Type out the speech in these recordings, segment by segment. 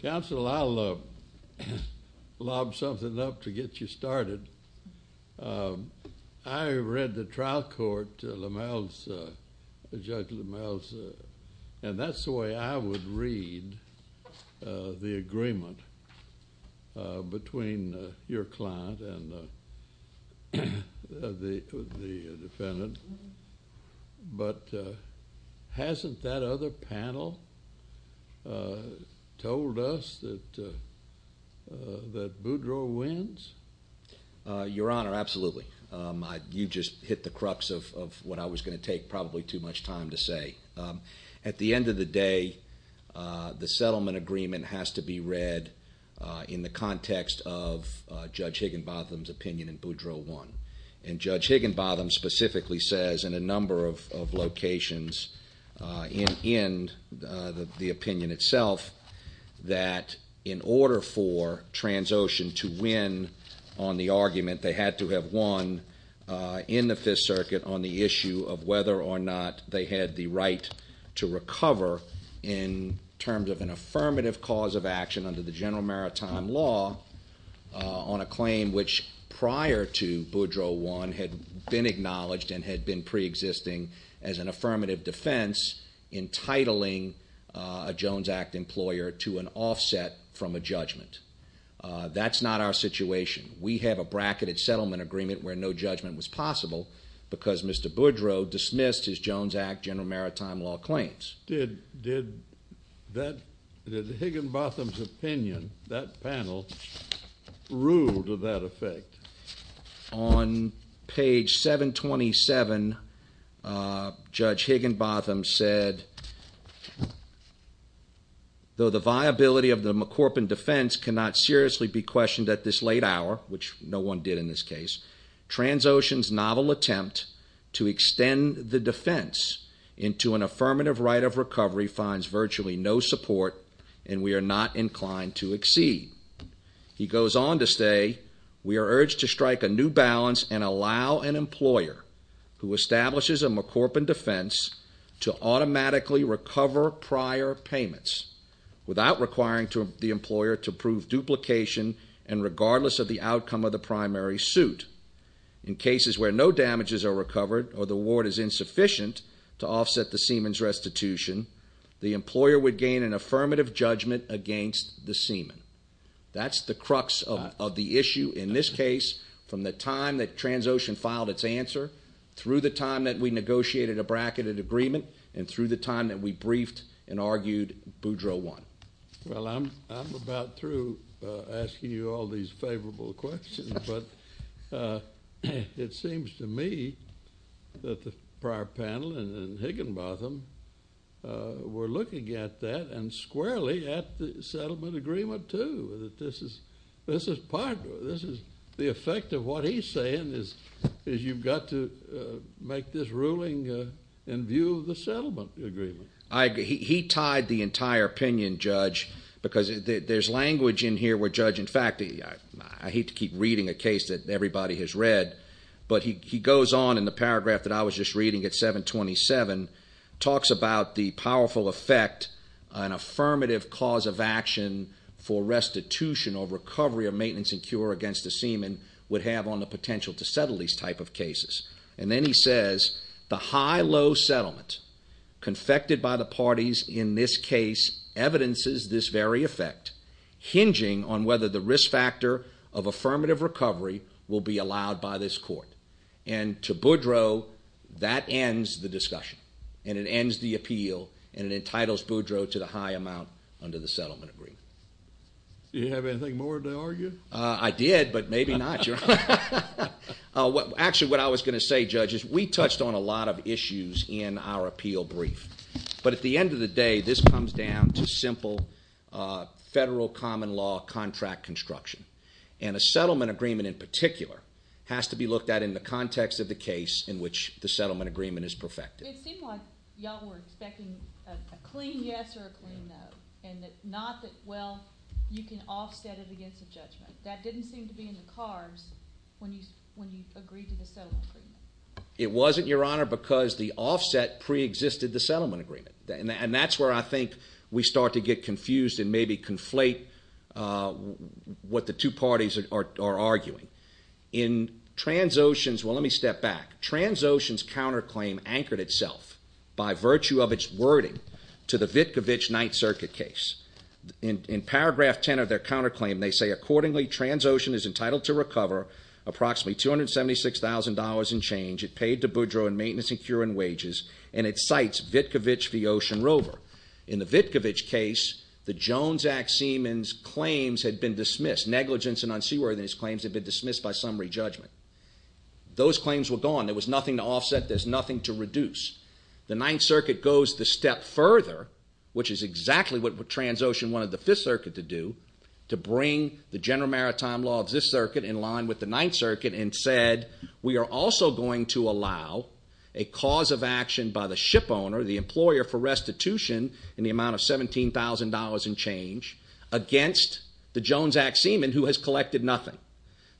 Counsel, I'll lob something up to get you started. I read the trial court, LaMal's, Judge LaMal's, and that's the way I would read the agreement between your panel told us that Boudreaux wins? Your Honor, absolutely. You just hit the crux of what I was going to take probably too much time to say. At the end of the day, the settlement agreement has to be read in the context of Judge Higginbotham's opinion in Boudreaux and the opinion itself that in order for Transocean to win on the argument they had to have won in the Fifth Circuit on the issue of whether or not they had the right to recover in terms of an affirmative cause of action under the General Maritime Law on a claim which prior to Boudreaux won had been acknowledged and had been preexisting as an affirmative defense entitling a Jones Act employer to an offset from a judgment. That's not our situation. We have a bracketed settlement agreement where no judgment was possible because Mr. Boudreaux dismissed his Jones Act General Maritime Law claims. Did Higginbotham's opinion, that panel, rule to that effect? On page 727, Judge Higginbotham said, though the viability of the McCorpin defense cannot seriously be questioned at this late hour, which no one did in this case, Transocean's novel attempt to extend the defense into an affirmative right of recovery finds virtually no support and we are not inclined to exceed. He goes on to say, we are urged to strike a new balance and allow an employer who establishes a McCorpin defense to automatically recover prior payments without requiring the employer to prove duplication and regardless of the outcome of the primary suit. In cases where no damages are recovered or the award is insufficient to offset the seaman's restitution, the employer would gain an affirmative judgment against the seaman. That's the crux of the issue in this case from the time that Transocean filed its answer through the time that we negotiated a bracketed agreement and through the time that we briefed and argued Boudreaux won. Well, I'm about through asking you all these favorable questions, but it seems to me that the prior panel and Higginbotham were looking at that and squarely at the settlement agreement too. This is part of it. This is the effect of what he's saying is you've got to make this ruling in view of the settlement agreement. He tied the entire opinion, Judge, because there's language in here where Judge, in fact, I hate to keep reading a case that everybody has read, but he goes on in the paragraph that I was just reading at 727, talks about the powerful effect an affirmative cause of action for restitution or recovery of maintenance and cure against a seaman would have on the potential to settle these type of cases. And then he says, the high-low settlement confected by the parties in this case evidences this very effect, hinging on whether the risk factor of affirmative recovery will be allowed by this court. And to Boudreaux, that ends the discussion, and it ends the appeal, and it entitles Boudreaux to the high amount under the settlement agreement. Did you have anything more to argue? I did, but maybe not. Actually, what I was going to say, Judge, is we touched on a lot of issues in our appeal brief, but at the end of the day, this comes down to simple federal common law contract construction, and a settlement agreement in particular has to be looked at in the context of the case in which the settlement agreement is perfected. It seemed like y'all were expecting a clean yes or a clean no, and not that, well, you can offset it against a judgment. That didn't seem to be in the cards when you agreed to the settlement agreement. It wasn't, Your Honor, because the offset preexisted the settlement agreement, and that's where I think we start to get confused and maybe conflate what the two parties are arguing. In Transocean's, well, let me step back. Transocean's counterclaim anchored itself by virtue of its wording to the Vitkovich 9th Circuit case. In paragraph 10 of their counterclaim, they say, Accordingly, Transocean is entitled to recover approximately $276,000 in change it paid to Boudreau in maintenance and curing wages, and it cites Vitkovich v. Ocean Rover. In the Vitkovich case, the Jones Act Seaman's claims had been dismissed. Negligence and unseaworthiness claims had been dismissed by summary judgment. Those claims were gone. There was nothing to offset. There's nothing to reduce. The 9th Circuit goes the step further, which is exactly what Transocean wanted the 5th Circuit to do, to bring the General Maritime Law of this circuit in line with the 9th Circuit and said, We are also going to allow a cause of action by the shipowner, the employer, for restitution in the amount of $17,000 in change against the Jones Act Seaman, who has collected nothing.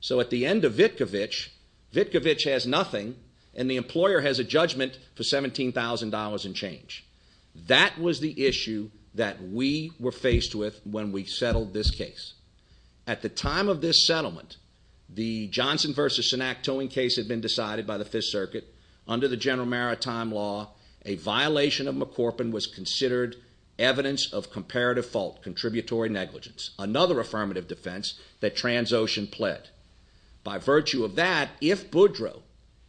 So at the end of Vitkovich, Vitkovich has nothing, and the employer has a judgment for $17,000 in change. That was the issue that we were faced with when we settled this case. At the time of this settlement, the Johnson v. Sinak towing case had been decided by the 5th Circuit. Under the General Maritime Law, a violation of McCorpin was considered evidence of comparative fault, contributory negligence, another affirmative defense that Transocean pled. By virtue of that, if Boudreau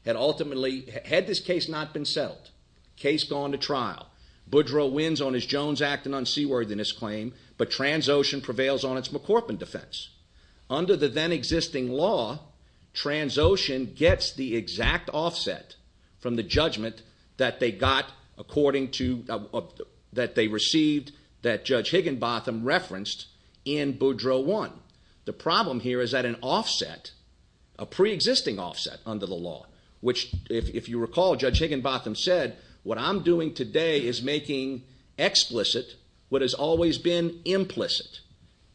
had ultimately, had this case not been settled, case gone to trial, Boudreau wins on his Jones Act and unseaworthiness claim, but Transocean prevails on its McCorpin defense. Under the then-existing law, Transocean gets the exact offset from the judgment that they got, according to, that they received, that Judge Higginbotham referenced in Boudreau 1. The problem here is that an offset, a pre-existing offset under the law, which, if you recall, Judge Higginbotham said, what I'm doing today is making explicit what has always been implicit.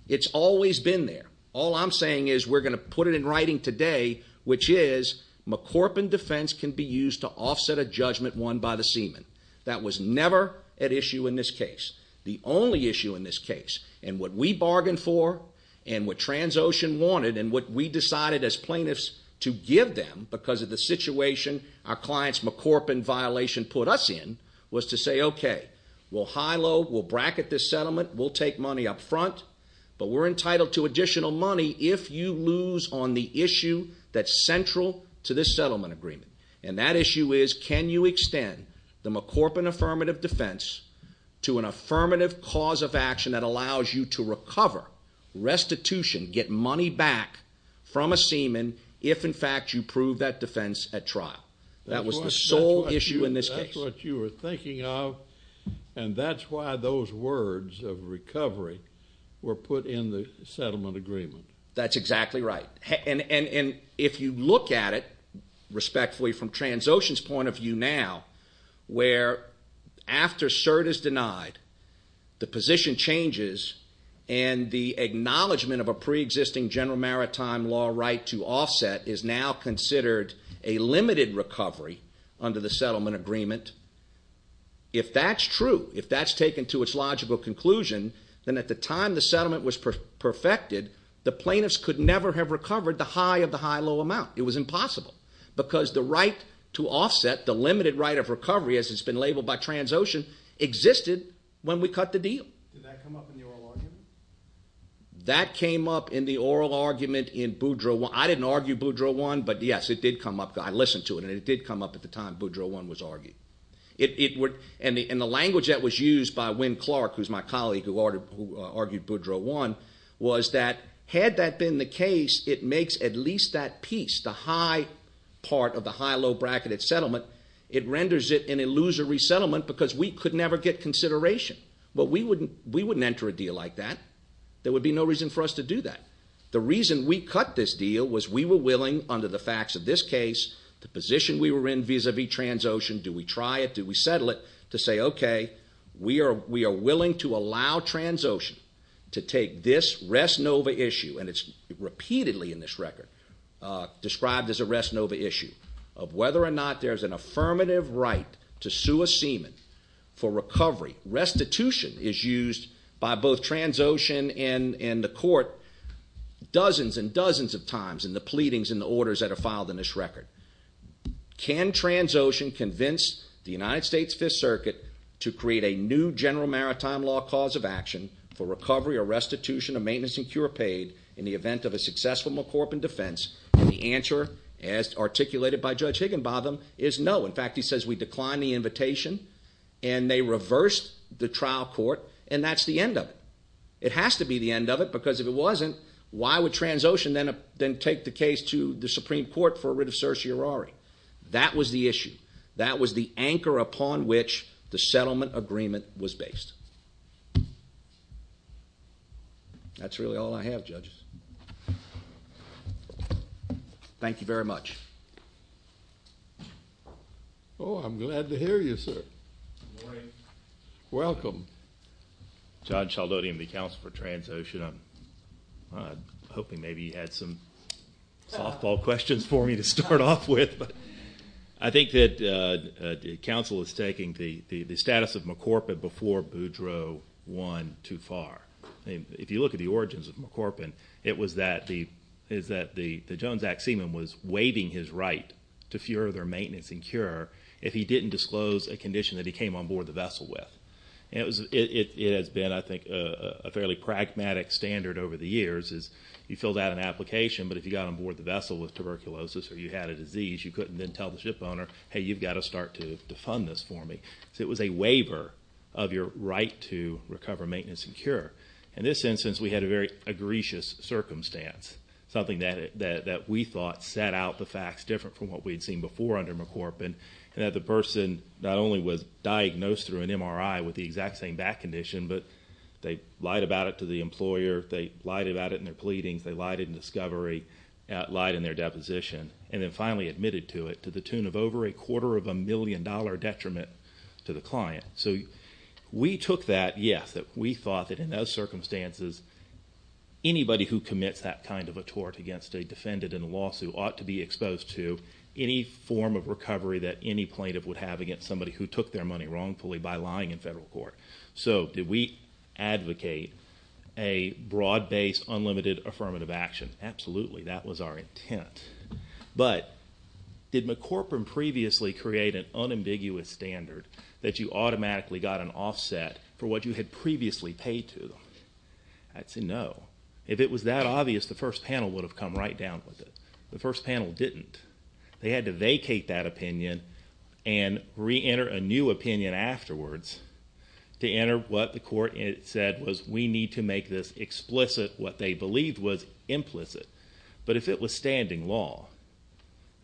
It's always been there. All I'm saying is we're going to put it in writing today, which is McCorpin defense can be used to offset a judgment won by the seaman. That was never at issue in this case. The only issue in this case, and what we bargained for, and what Transocean wanted, and what we decided as plaintiffs to give them because of the situation our client's McCorpin violation put us in, was to say, okay, we'll high-low, we'll bracket this settlement, we'll take money up front, but we're entitled to additional money if you lose on the issue that's central to this settlement agreement. And that issue is can you extend the McCorpin affirmative defense to an affirmative cause of action that allows you to recover restitution, get money back from a seaman, if, in fact, you prove that defense at trial. That was the sole issue in this case. That's what you were thinking of, and that's why those words of recovery were put in the settlement agreement. That's exactly right. And if you look at it respectfully from Transocean's point of view now, where after cert is denied, the position changes, and the acknowledgment of a preexisting general maritime law right to offset is now considered a limited recovery under the settlement agreement, if that's true, if that's taken to its logical conclusion, then at the time the settlement was perfected, the plaintiffs could never have recovered the high of the high-low amount. It was impossible because the right to offset, the limited right of recovery, as it's been labeled by Transocean, existed when we cut the deal. Did that come up in the oral argument? That came up in the oral argument in Boudreau 1. I didn't argue Boudreau 1, but, yes, it did come up. I listened to it, and it did come up at the time Boudreau 1 was argued. And the language that was used by Wynn Clark, who's my colleague who argued Boudreau 1, was that had that been the case, it makes at least that piece, the high part of the high-low bracketed settlement, it renders it an illusory settlement because we could never get consideration. But we wouldn't enter a deal like that. There would be no reason for us to do that. The reason we cut this deal was we were willing, under the facts of this case, the position we were in vis-à-vis Transocean, do we try it, do we settle it, to say, okay, we are willing to allow Transocean to take this Res Nova issue, and it's repeatedly in this record described as a Res Nova issue, of whether or not there's an affirmative right to sue a seaman for recovery. Restitution is used by both Transocean and the court dozens and dozens of times in the pleadings and the orders that are filed in this record. Can Transocean convince the United States Fifth Circuit to create a new general maritime law cause of action for recovery or restitution of maintenance and cure paid in the event of a successful McCorpin defense? And the answer, as articulated by Judge Higginbotham, is no. In fact, he says we declined the invitation, and they reversed the trial court, and that's the end of it. It has to be the end of it because if it wasn't, why would Transocean then take the case to the Supreme Court for a writ of certiorari? That was the issue. That was the anchor upon which the settlement agreement was based. That's really all I have, judges. Thank you very much. Oh, I'm glad to hear you, sir. Good morning. Welcome. John Sheldotium, the counsel for Transocean. I'm hoping maybe you had some softball questions for me to start off with. But I think that counsel is taking the status of McCorpin before Boudreau won too far. If you look at the origins of McCorpin, it was that the Jones Act seaman was waiving his right to further maintenance and cure if he didn't disclose a condition that he came on board the vessel with. It has been, I think, a fairly pragmatic standard over the years. You filled out an application, but if you got on board the vessel with tuberculosis or you had a disease, you couldn't then tell the shipowner, hey, you've got to start to fund this for me. So it was a waiver of your right to recover, maintenance, and cure. In this instance, we had a very egregious circumstance, something that we thought set out the facts different from what we'd seen before under McCorpin, and that the person not only was diagnosed through an MRI with the exact same back condition, but they lied about it to the employer, they lied about it in their pleadings, they lied in discovery, lied in their deposition, and then finally admitted to it to the tune of over a quarter of a million-dollar detriment to the client. So we took that, yes, that we thought that in those circumstances, anybody who commits that kind of a tort against a defendant in a lawsuit ought to be exposed to any form of recovery that any plaintiff would have against somebody who took their money wrongfully by lying in federal court. So did we advocate a broad-based, unlimited affirmative action? Absolutely. That was our intent. But did McCorpin previously create an unambiguous standard that you automatically got an offset for what you had previously paid to them? I'd say no. If it was that obvious, the first panel would have come right down with it. The first panel didn't. They had to vacate that opinion and reenter a new opinion afterwards to enter what the court said was we need to make this explicit, what they believed was implicit. But if it was standing law,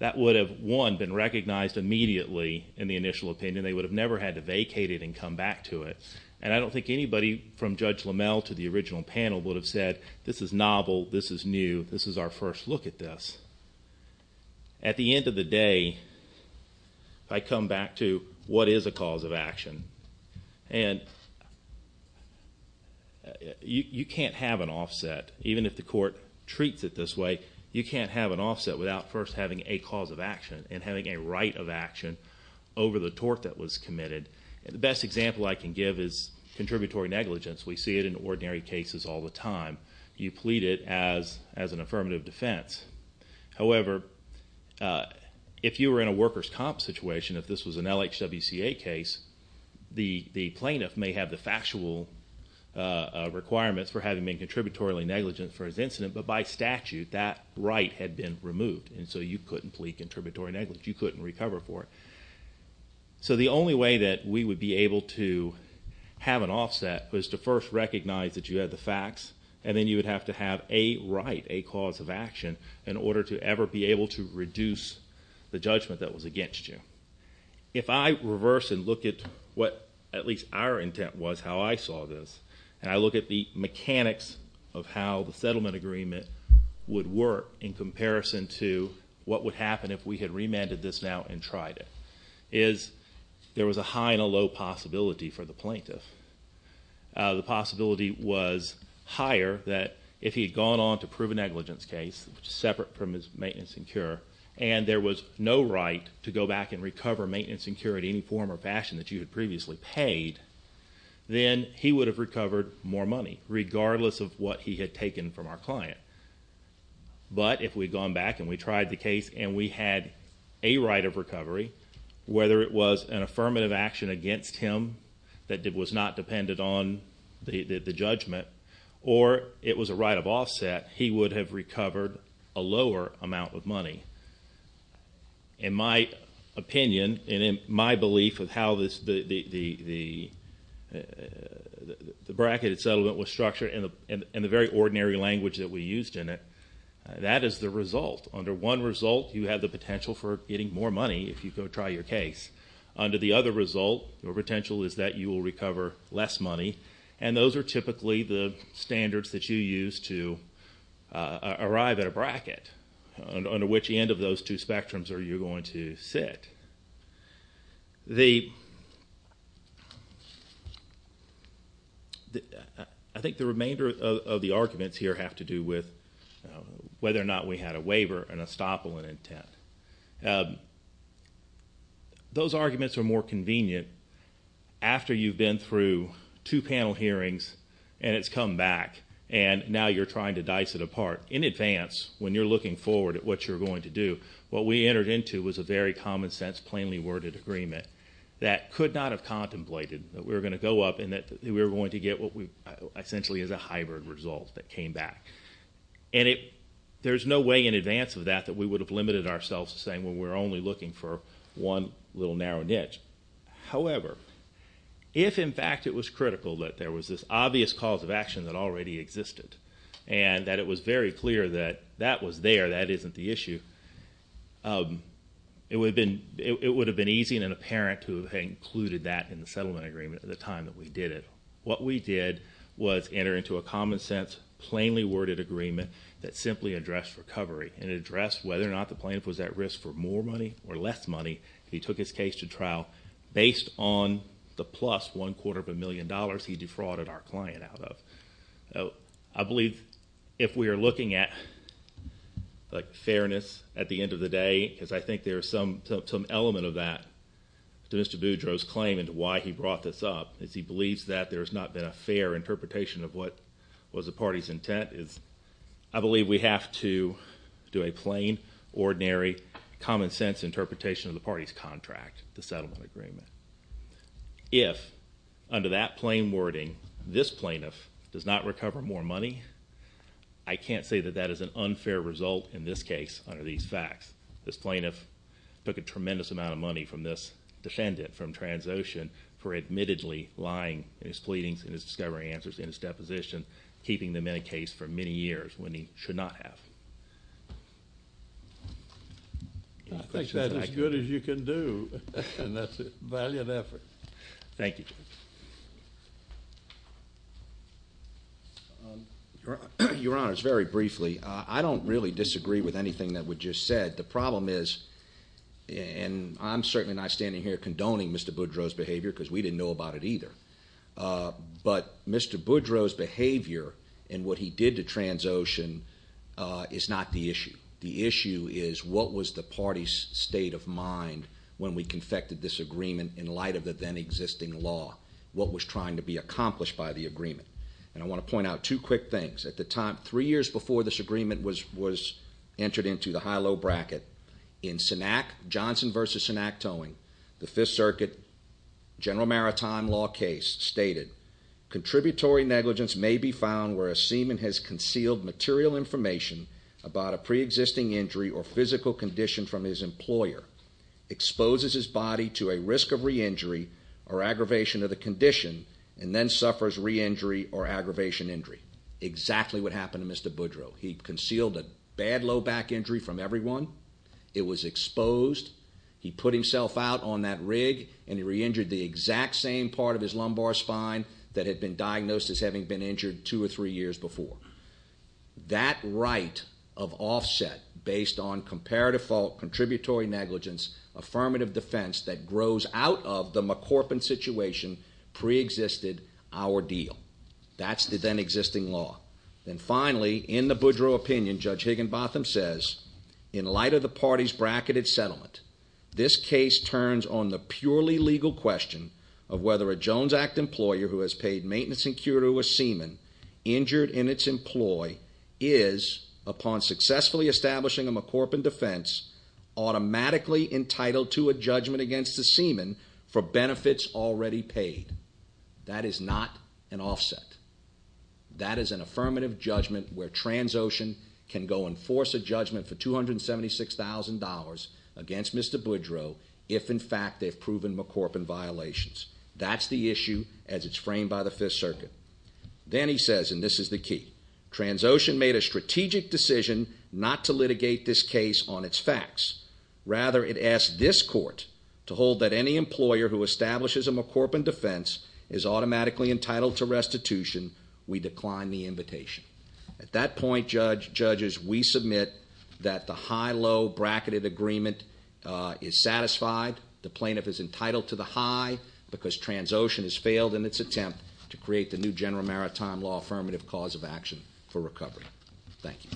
that would have, one, been recognized immediately in the initial opinion. They would have never had to vacate it and come back to it. And I don't think anybody from Judge LaMelle to the original panel would have said, this is novel, this is new, this is our first look at this. At the end of the day, I come back to what is a cause of action. And you can't have an offset. Even if the court treats it this way, you can't have an offset without first having a cause of action and having a right of action over the tort that was committed. The best example I can give is contributory negligence. We see it in ordinary cases all the time. You plead it as an affirmative defense. However, if you were in a workers' comp situation, if this was an LHWCA case, the plaintiff may have the factual requirements for having been contributory negligent for his incident, but by statute that right had been removed. And so you couldn't plead contributory negligence. You couldn't recover for it. So the only way that we would be able to have an offset was to first recognize that you had the facts, and then you would have to have a right, a cause of action, in order to ever be able to reduce the judgment that was against you. If I reverse and look at what at least our intent was, how I saw this, and I look at the mechanics of how the settlement agreement would work in comparison to what would happen if we had remanded this now and tried it, is there was a high and a low possibility for the plaintiff. The possibility was higher that if he had gone on to prove a negligence case, separate from his maintenance and cure, and there was no right to go back and recover maintenance and cure in any form or fashion that you had previously paid, then he would have recovered more money, regardless of what he had taken from our client. But if we had gone back and we tried the case and we had a right of recovery, whether it was an affirmative action against him that was not dependent on the judgment, or it was a right of offset, he would have recovered a lower amount of money. In my opinion and in my belief of how the bracketed settlement was structured in the very ordinary language that we used in it, that is the result. Under one result, you have the potential for getting more money if you go try your case. Under the other result, your potential is that you will recover less money, and those are typically the standards that you use to arrive at a bracket under which end of those two spectrums are you going to sit. The... I think the remainder of the arguments here have to do with whether or not we had a waiver and a stop on intent. Those arguments are more convenient after you've been through two panel hearings and it's come back, and now you're trying to dice it apart. In advance, when you're looking forward at what you're going to do, what we entered into was a very common-sense, plainly worded agreement that could not have contemplated that we were going to go up and that we were going to get what essentially is a hybrid result that came back. And there's no way in advance of that that we would have limited ourselves to saying, well, we're only looking for one little narrow niche. However, if in fact it was critical that there was this obvious cause of action that already existed and that it was very clear that that was there, that isn't the issue, it would have been easy in an apparent to have included that in the settlement agreement at the time that we did it. What we did was enter into a common-sense, plainly worded agreement that simply addressed recovery and addressed whether or not the plaintiff was at risk for more money or less money if he took his case to trial based on the plus one-quarter of a million dollars he defrauded our client out of. I believe if we are looking at fairness at the end of the day, because I think there's some element of that to Mr. Boudreau's claim and to why he brought this up, is he believes that there's not been a fair interpretation of what was the party's intent. I believe we have to do a plain, ordinary, common-sense interpretation of the party's contract, the settlement agreement. If, under that plain wording, this plaintiff does not recover more money, I can't say that that is an unfair result in this case under these facts. This plaintiff took a tremendous amount of money from this defendant, from Transocean, for admittedly lying in his pleadings, in his discovery answers, in his deposition, keeping them in a case for many years when he should not have. Any questions on that? I think that's as good as you can do, and that's a valiant effort. Thank you. Your Honor, very briefly, I don't really disagree with anything that was just said. The problem is, and I'm certainly not standing here condoning Mr. Boudreau's behavior because we didn't know about it either, but Mr. Boudreau's behavior and what he did to Transocean is not the issue. The issue is what was the party's state of mind when we confected this agreement in light of the then-existing law, what was trying to be accomplished by the agreement. And I want to point out two quick things. At the time, three years before this agreement was entered into the high-low bracket, in Johnson v. Synack Towing, the Fifth Circuit General Maritime Law case, stated, Contributory negligence may be found where a seaman has concealed material information about a pre-existing injury or physical condition from his employer, exposes his body to a risk of re-injury or aggravation of the condition, and then suffers re-injury or aggravation injury. Exactly what happened to Mr. Boudreau. He concealed a bad low back injury from everyone. It was exposed. He put himself out on that rig, and he re-injured the exact same part of his lumbar spine that had been diagnosed as having been injured two or three years before. That right of offset based on comparative fault, contributory negligence, affirmative defense that grows out of the McCorpin situation pre-existed our deal. That's the then-existing law. Then finally, in the Boudreau opinion, Judge Higginbotham says, In light of the party's bracketed settlement, this case turns on the purely legal question of whether a Jones Act employer who has paid maintenance and cure to a seaman injured in its employ is, upon successfully establishing a McCorpin defense, automatically entitled to a judgment against the seaman for benefits already paid. That is not an offset. That is an affirmative judgment where Transocean can go enforce a judgment for $276,000 against Mr. Boudreau if, in fact, they've proven McCorpin violations. That's the issue as it's framed by the Fifth Circuit. Then he says, and this is the key, Transocean made a strategic decision not to litigate this case on its facts. Rather, it asked this court to hold that any employer who establishes a McCorpin defense is automatically entitled to restitution. We decline the invitation. At that point, judges, we submit that the high-low bracketed agreement is satisfied. The plaintiff is entitled to the high because Transocean has failed in its attempt to create the new general maritime law affirmative cause of action for recovery. Thank you.